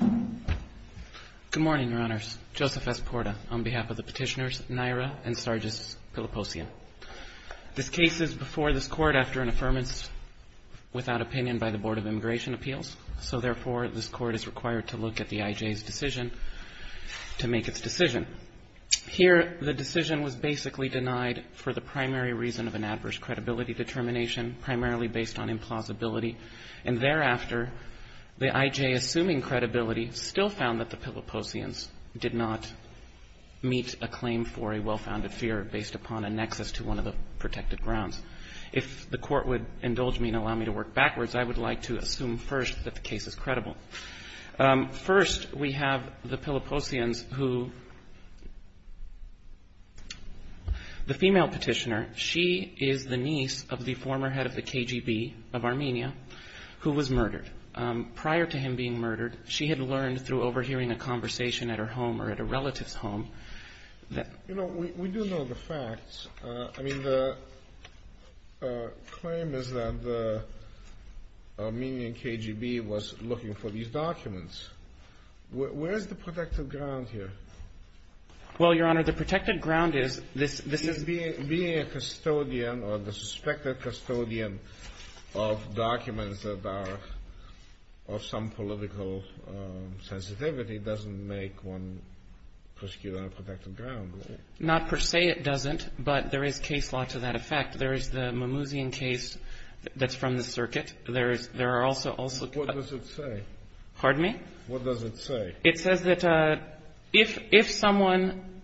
Good morning, Your Honors. Joseph S. Porta, on behalf of the petitioners, Naira and Sargis Piliposyan. This case is before this Court after an affirmance without opinion by the Board of Immigration Appeals, so therefore this Court is required to look at the IJ's decision to make its decision. Here, the decision was basically denied for the primary reason of an adverse credibility determination, primarily based on implausibility, and thereafter, the IJ, assuming credibility, still found that the Piliposyans did not meet a claim for a well-founded fear based upon a nexus to one of the protected grounds. If the Court would indulge me and allow me to work backwards, I would like to assume first that the case is credible. First we have the Piliposyans who the female petitioner, she is the niece of the former head of the KGB of Armenia, who was murdered. Prior to him being murdered, she had learned through overhearing a conversation at her home or at a relative's home that – You know, we do know the facts. I mean, the claim is that the Armenian KGB was looking for these documents. Where is the protected ground here? Well, Your Honor, the protected ground is this – Being a custodian or the suspected custodian of documents that are of some political sensitivity doesn't make one prosecute on a protected ground, right? Not per se it doesn't, but there is case law to that effect. There is the Mimouzian case that's from the circuit. There is – there are also – What does it say? Pardon me? What does it say? It says that if someone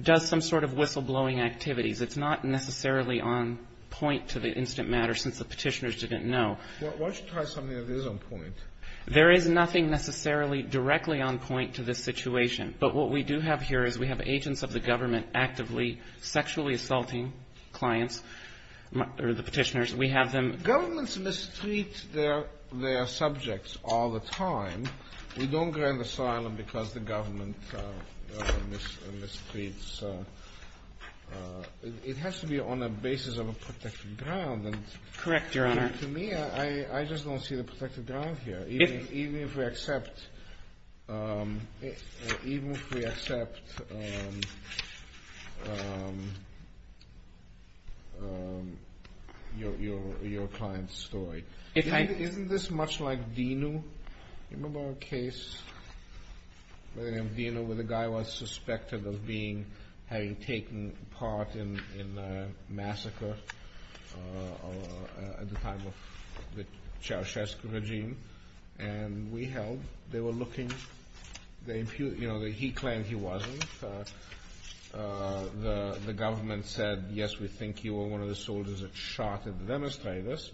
does some sort of whistleblowing activities, it's not necessarily on point to the instant matter since the petitioners didn't know. Well, why don't you try something that is on point? There is nothing necessarily directly on point to this situation. But what we do have here is we have agents of the government actively sexually assaulting clients or the petitioners. We have them – We don't grant asylum because the government misleads. It has to be on a basis of a protected ground. Correct, Your Honor. To me, I just don't see the protected ground here, even if we accept your client's story. Isn't this much like Dinu? Do you remember a case by the name Dinu where the guy was suspected of being – having taken part in a massacre at the time of the Ceausescu regime? And we held – they were looking – they – he claimed he wasn't. The government said, yes, we think he was one of the soldiers that shot the demonstrators.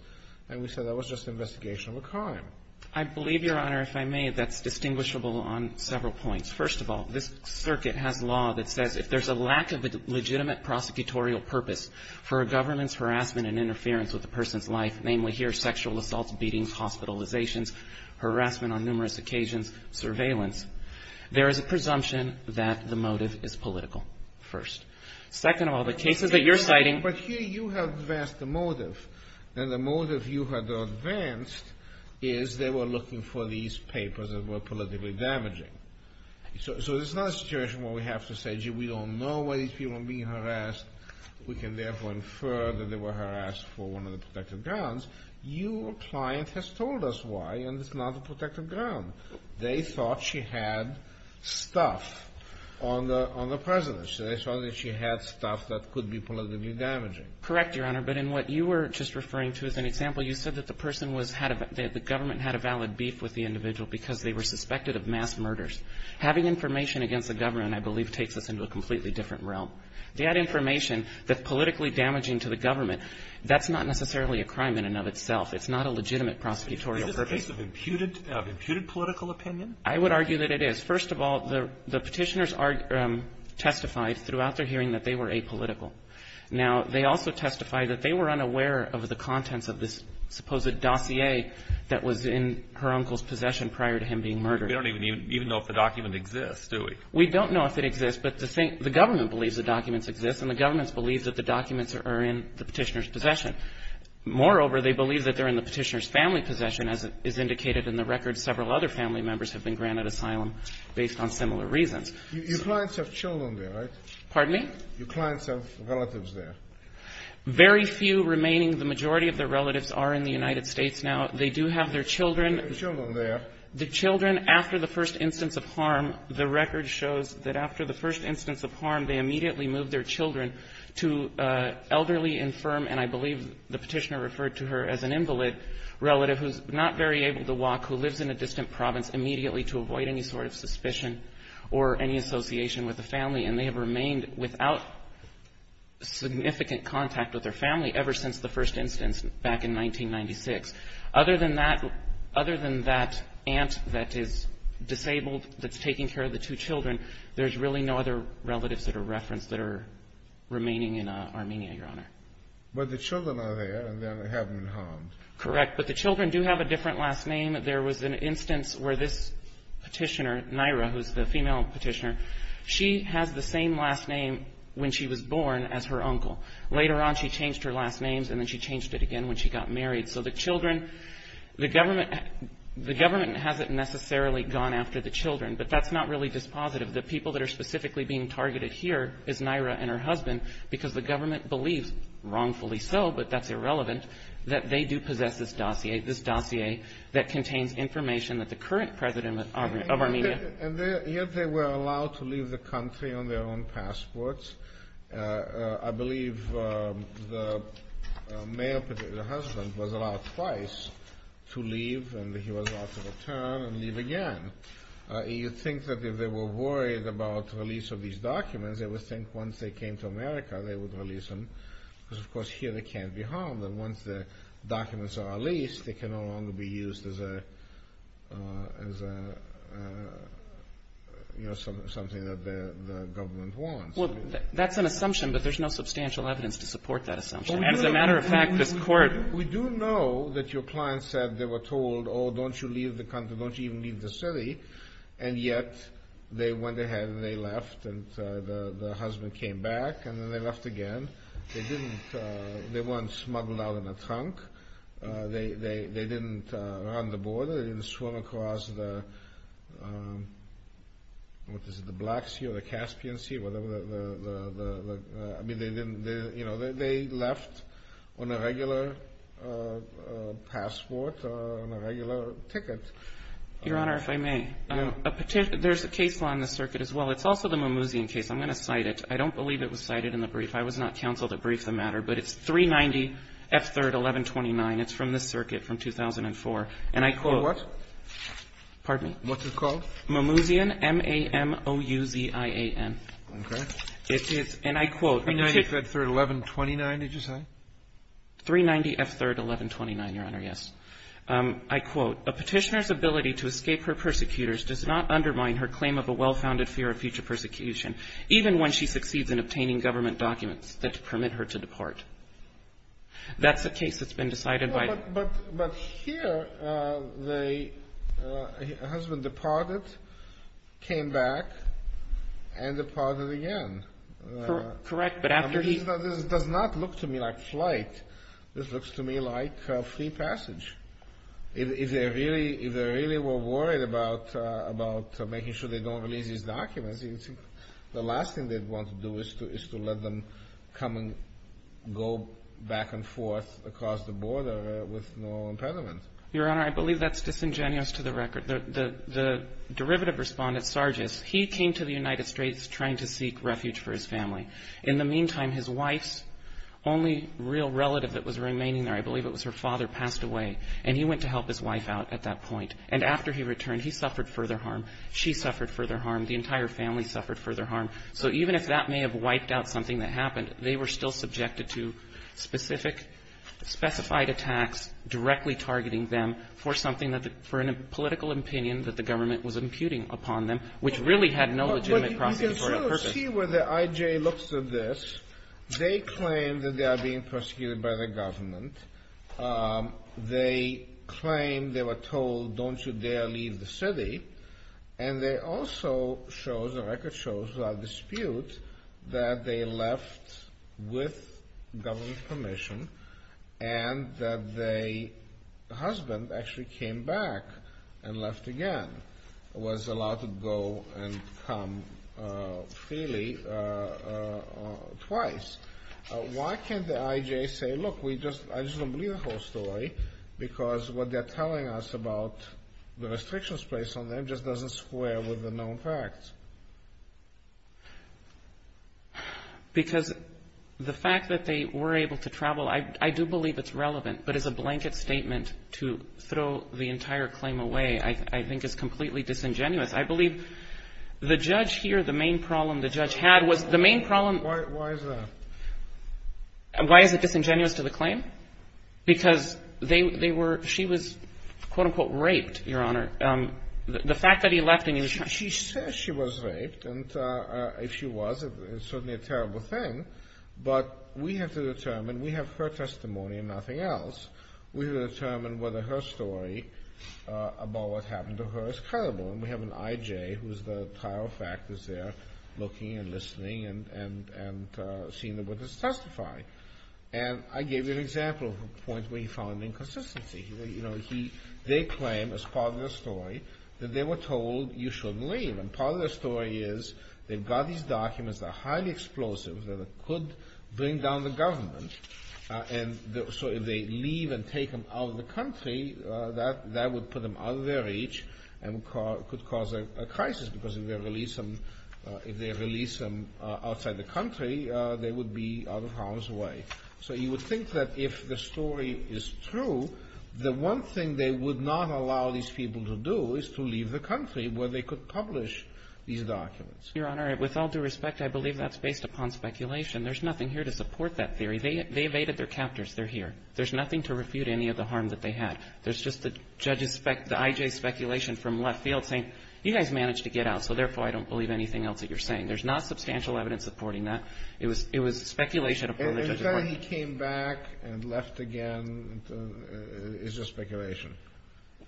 And we said that was just an investigation of a crime. I believe, Your Honor, if I may, that's distinguishable on several points. First of all, this circuit has law that says if there's a lack of a legitimate prosecutorial purpose for a government's harassment and interference with a person's life, namely, here, sexual assaults, beatings, hospitalizations, harassment on numerous occasions, surveillance, there is a presumption that the motive is political, first. Second of all, the cases that you're citing – But here you have advanced the motive. And the motive you had advanced is they were looking for these papers that were politically damaging. So it's not a situation where we have to say, gee, we don't know why these people are being harassed. We can therefore infer that they were harassed for one of the protected grounds. Your client has told us why, and it's not a protected ground. They thought she had stuff on the – on the president. So they thought that she had stuff that could be politically damaging. Correct, Your Honor. But in what you were just referring to as an example, you said that the person was had a – that the government had a valid beef with the individual because they were suspected of mass murders. Having information against the government, I believe, takes us into a completely different realm. That information that's politically damaging to the government, that's not necessarily a crime in and of itself. It's not a legitimate prosecutorial purpose. Is this a case of imputed – of imputed political opinion? I would argue that it is. First of all, the Petitioners are – testified throughout their hearing that they were apolitical. Now, they also testified that they were unaware of the contents of this supposed dossier that was in her uncle's possession prior to him being murdered. We don't even know if the document exists, do we? We don't know if it exists, but the government believes the documents exist, and the government believes that the documents are in the Petitioner's possession. Moreover, they believe that they're in the Petitioner's family possession, as is indicated in the record. Several other family members have been granted asylum based on similar reasons. You – your clients have children there, right? Pardon me? Your clients have relatives there. Very few remaining. The majority of their relatives are in the United States now. They do have their children. They have children there. The children, after the first instance of harm, the record shows that after the first instance of harm, they immediately moved their children to elderly, infirm, and I believe the Petitioner referred to her as an invalid relative who's not very able to walk, who lives in a distant province, immediately to avoid any sort of suspicion or any association with the family. And they have remained without significant contact with their family ever since the first instance back in 1996. Other than that – other than that aunt that is disabled, that's taking care of the two children, there's really no other relatives that are referenced that are remaining in Armenia, Your Honor. But the children are there, and they haven't been harmed. Correct. But the children do have a different last name. There was an instance where this Petitioner, Naira, who's the female Petitioner, she has the same last name when she was born as her uncle. Later on, she changed her last names, and then she changed it again when she got married. So the children – the government – the government hasn't necessarily gone after the children, but that's not really dispositive. The people that are specifically being targeted here is Naira and her husband, because the government believes – wrongfully so, but that's irrelevant – that they do possess this dossier – this dossier that contains information that the current president of Armenia – And yet they were allowed to leave the country on their own passports. I believe the male Petitioner's husband was allowed twice to leave, and he was allowed to return and leave again. You'd think that if they were worried about release of these documents, they would think once they came to America, they would release them. Because, of course, here they can't be harmed, and once the documents are released, they can no longer be used as a – as a – you know, something that the government wants. Well, that's an assumption, but there's no substantial evidence to support that assumption. And as a matter of fact, this Court – We do know that your client said they were told, oh, don't you leave the country, don't you even leave the city, and yet they went ahead and they left, and the husband came back, and then they left again. They didn't – they weren't smuggled out in a trunk. They didn't run the border. They didn't swim across the – what is it, the Black Sea or the Caspian Sea, whatever the – I mean, they didn't – you know, they left on a regular passport, on a regular ticket. Your Honor, if I may, a – there's a case law in this circuit as well. It's also the Mimouzian case. I'm going to cite it. I don't believe it was cited in the brief. I was not counseled to brief the matter, but it's 390F3-1129. It's from this circuit from 2004. And I quote – You quote what? Pardon me? What's it called? Mimouzian, M-A-M-O-U-Z-I-A-N. Okay. It is – and I quote – 390F3-1129, did you say? 390F3-1129, Your Honor, yes. I quote, A petitioner's ability to escape her persecutors does not undermine her claim of a well-founded fear of future persecution, even when she succeeds in obtaining government documents that permit her to depart. That's a case that's been decided by – But here, the husband departed, came back, and departed again. Correct, but after he – If they really were worried about making sure they don't release these documents, the last thing they'd want to do is to let them come and go back and forth across the border with no impediment. Your Honor, I believe that's disingenuous to the record. The derivative respondent, Sargis, he came to the United States trying to seek refuge for his family. In the meantime, his wife's only real relative that was remaining there, I believe it was her father, passed away. And he went to help his wife out at that point. And after he returned, he suffered further harm. She suffered further harm. The entire family suffered further harm. So even if that may have wiped out something that happened, they were still subjected to specific – specified attacks directly targeting them for something that – for a political opinion that the government was imputing upon them, which really had no legitimate process for a purpose. You can still see where the IJ looks at this. They claim that they are being prosecuted by the government. They claim – they were told, don't you dare leave the city. And they also show, the record shows, without dispute, that they left with government permission and that the husband actually came back and left again, was allowed to go and come freely twice. Why can't the IJ say, look, we just – I just don't believe the whole story, because what they're telling us about the restrictions placed on them just doesn't square with the known facts? Because the fact that they were able to travel, I do believe it's relevant. But as a blanket statement to throw the entire claim away, I think is completely disingenuous. I believe the judge here, the main problem the judge had was – the main problem – Why is that? Why is it disingenuous to the claim? Because they were – she was, quote, unquote, raped, Your Honor. The fact that he left and he was – She says she was raped, and if she was, it's certainly a terrible thing. But we have to determine – we have her testimony and nothing else. We have to determine whether her story about what happened to her is credible. And we have an IJ who's the Trial Factors there looking and listening and seeing the witness testify. And I gave you an example of a point where he found inconsistency. You know, he – they claim, as part of their story, that they were told you shouldn't leave. And part of their story is they've got these documents that are highly explosive, that could bring down the government. And so if they leave and take them out of the country, that would put them out of their reach and could cause a crisis, because if they release them – if they release them outside the country, they would be out of harm's way. So you would think that if the story is true, the one thing they would not allow these people to do is to leave the country where they could publish these documents. Your Honor, with all due respect, I believe that's based upon speculation. There's nothing here to support that theory. They evaded their captors. They're here. There's nothing to refute any of the harm that they had. There's just the judge's – the I.J.'s speculation from left field saying, you guys managed to get out, so therefore I don't believe anything else that you're saying. There's not substantial evidence supporting that. It was – it was speculation. And the fact that he came back and left again is just speculation?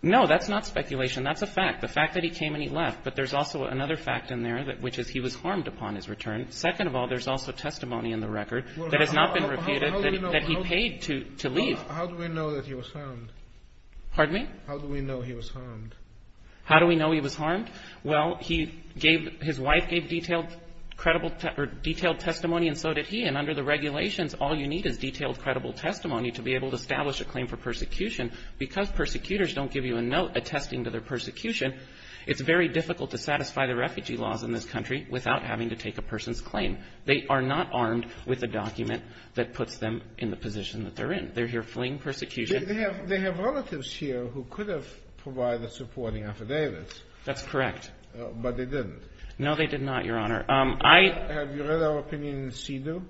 No, that's not speculation. That's a fact. The fact that he came and he left. But there's also another fact in there, which is he was harmed upon his return. Second of all, there's also testimony in the record that has not been refuted that he paid to leave. How do we know that he was harmed? Pardon me? How do we know he was harmed? How do we know he was harmed? Well, he gave – his wife gave detailed credible – or detailed testimony and so did he. And under the regulations, all you need is detailed credible testimony to be able to establish a claim for persecution. Because persecutors don't give you a note attesting to their persecution, it's very difficult to satisfy the refugee laws in this country without having to take a person's claim. They are not armed with a document that puts them in the position that they're in. They're here fleeing persecution. They have relatives here who could have provided supporting affidavits. That's correct. But they didn't. No, they did not, Your Honor. I – Have you read our opinion in SIDU?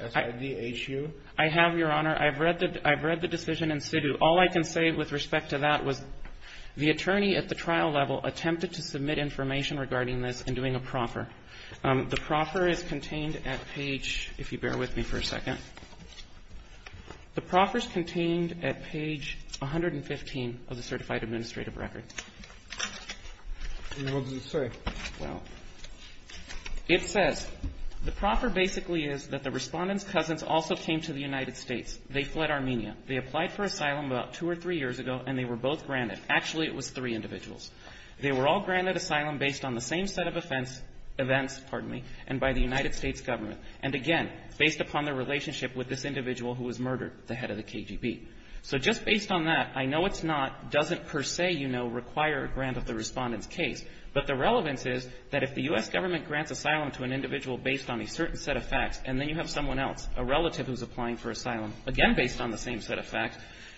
S-I-D-H-U? I have, Your Honor. I've read the decision in SIDU. All I can say with respect to that was the attorney at the trial level attempted to submit information regarding this in doing a proffer. The proffer is contained at page – if you bear with me for a second. The proffer is contained at page 115 of the certified administrative record. And what does it say? Well, it says, The proffer basically is that the Respondent's cousins also came to the United States. They fled Armenia. They applied for asylum about two or three years ago, and they were both granted. Actually, it was three individuals. They were all granted asylum based on the same set of offense – events, pardon me, and by the United States government. And again, based upon their relationship with this individual who was murdered, the head of the KGB. So just based on that, I know it's not – doesn't per se, you know, require a grant of the Respondent's case. But the relevance is that if the U.S. government grants asylum to an individual based on a certain set of facts, and then you have someone else, a relative who's applying for asylum, again based on the same set of facts,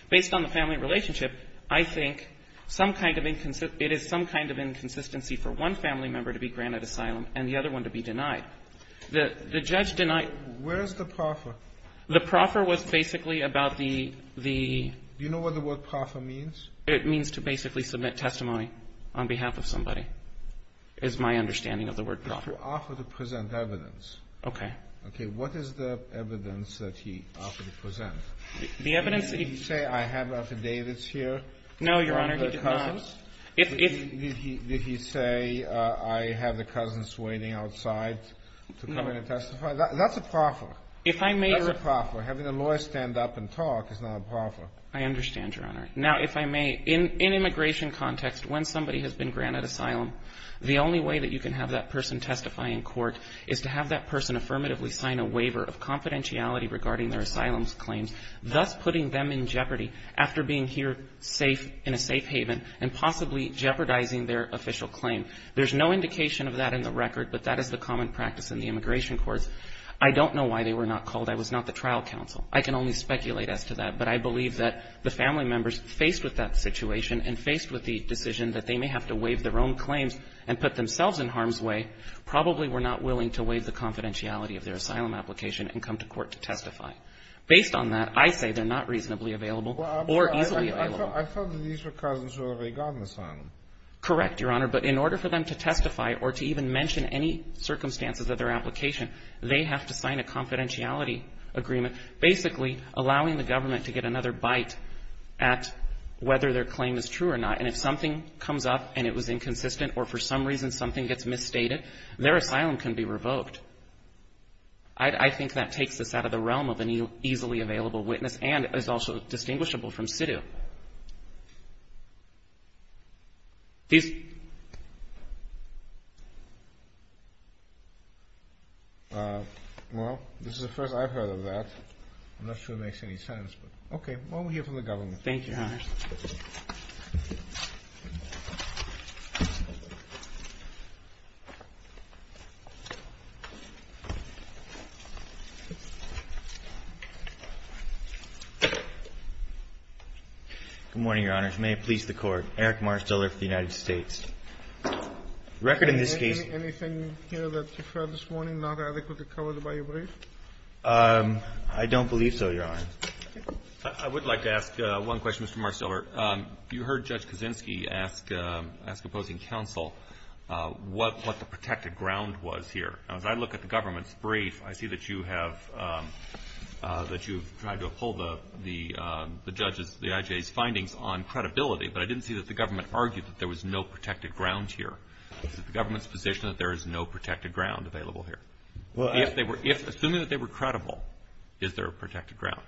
based on the family relationship, I think some kind of – it is some kind of inconsistency for one family member to be granted asylum and the other one to be denied. The judge denied – Where is the proffer? The proffer was basically about the – the – Do you know what the word proffer means? It means to basically submit testimony on behalf of somebody, is my understanding of the word proffer. To offer to present evidence. Okay. Okay. What is the evidence that he offered to present? The evidence – Did he say, I have affidavits here from the cousins? No, Your Honor, he did not. If – Did he say, I have the cousins waiting outside to come in and testify? No. That's a proffer. If I may – That's a proffer. Having a lawyer stand up and talk is not a proffer. I understand, Your Honor. Now, if I may, in immigration context, when somebody has been granted asylum, the only way that you can have that person testify in court is to have that person affirmatively sign a waiver of confidentiality regarding their asylum claims, thus putting them in jeopardy after being here safe – in a safe haven and possibly being denied asylum. Possibly jeopardizing their official claim. There's no indication of that in the record, but that is the common practice in the immigration courts. I don't know why they were not called. I was not the trial counsel. I can only speculate as to that, but I believe that the family members faced with that situation and faced with the decision that they may have to waive their own claims and put themselves in harm's way probably were not willing to waive the confidentiality of their asylum application and come to court to testify. Based on that, I say they're not reasonably available or easily available. I thought that these were cousins who had already gotten asylum. Correct, Your Honor, but in order for them to testify or to even mention any circumstances of their application, they have to sign a confidentiality agreement, basically allowing the government to get another bite at whether their claim is true or not. And if something comes up and it was inconsistent or for some reason something gets misstated, their asylum can be revoked. I think that takes us out of the realm of an easily available witness and is also distinguishable from sit-in. Well, this is the first I've heard of that. I'm not sure it makes any sense. Okay. We'll hear from the government. Thank you, Your Honor. Good morning, Your Honors. May it please the Court. Eric Marsteller for the United States. The record in this case. Anything here that you've heard this morning not adequately covered by your brief? I don't believe so, Your Honor. I would like to ask one question, Mr. Marsteller. You heard Judge Kaczynski ask opposing counsel what the protected ground was here. Now, as I look at the government's brief, I see that you have tried to uphold the judges, the IJA's findings on credibility, but I didn't see that the government argued that there was no protected ground here. Is it the government's position that there is no protected ground available here? Assuming that they were credible, is there a protected ground?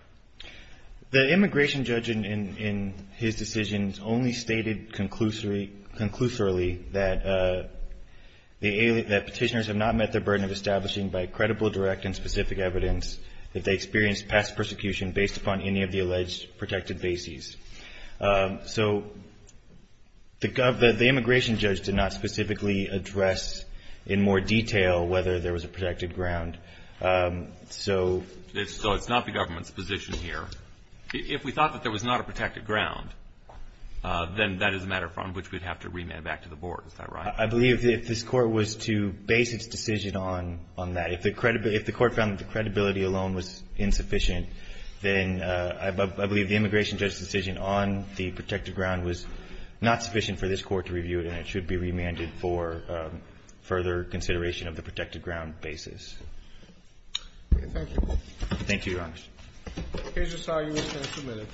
The immigration judge in his decisions only stated conclusively that the petitioners have not met their burden of establishing by credible, direct, and specific evidence that they experienced past persecution based upon any of the alleged protected bases. So the immigration judge did not specifically address in more detail whether there was a protected ground. So it's not the government's position here. If we thought that there was not a protected ground, then that is a matter from which we'd have to remand back to the Board. Is that right? I believe if this Court was to base its decision on that, if the Court found that the credibility alone was insufficient, then I believe the immigration judge's decision on the protected ground was not sufficient for this Court to review it, and it should be remanded for further consideration of the protected ground basis. Thank you. Thank you, Your Honor. Here's just how you would have submitted.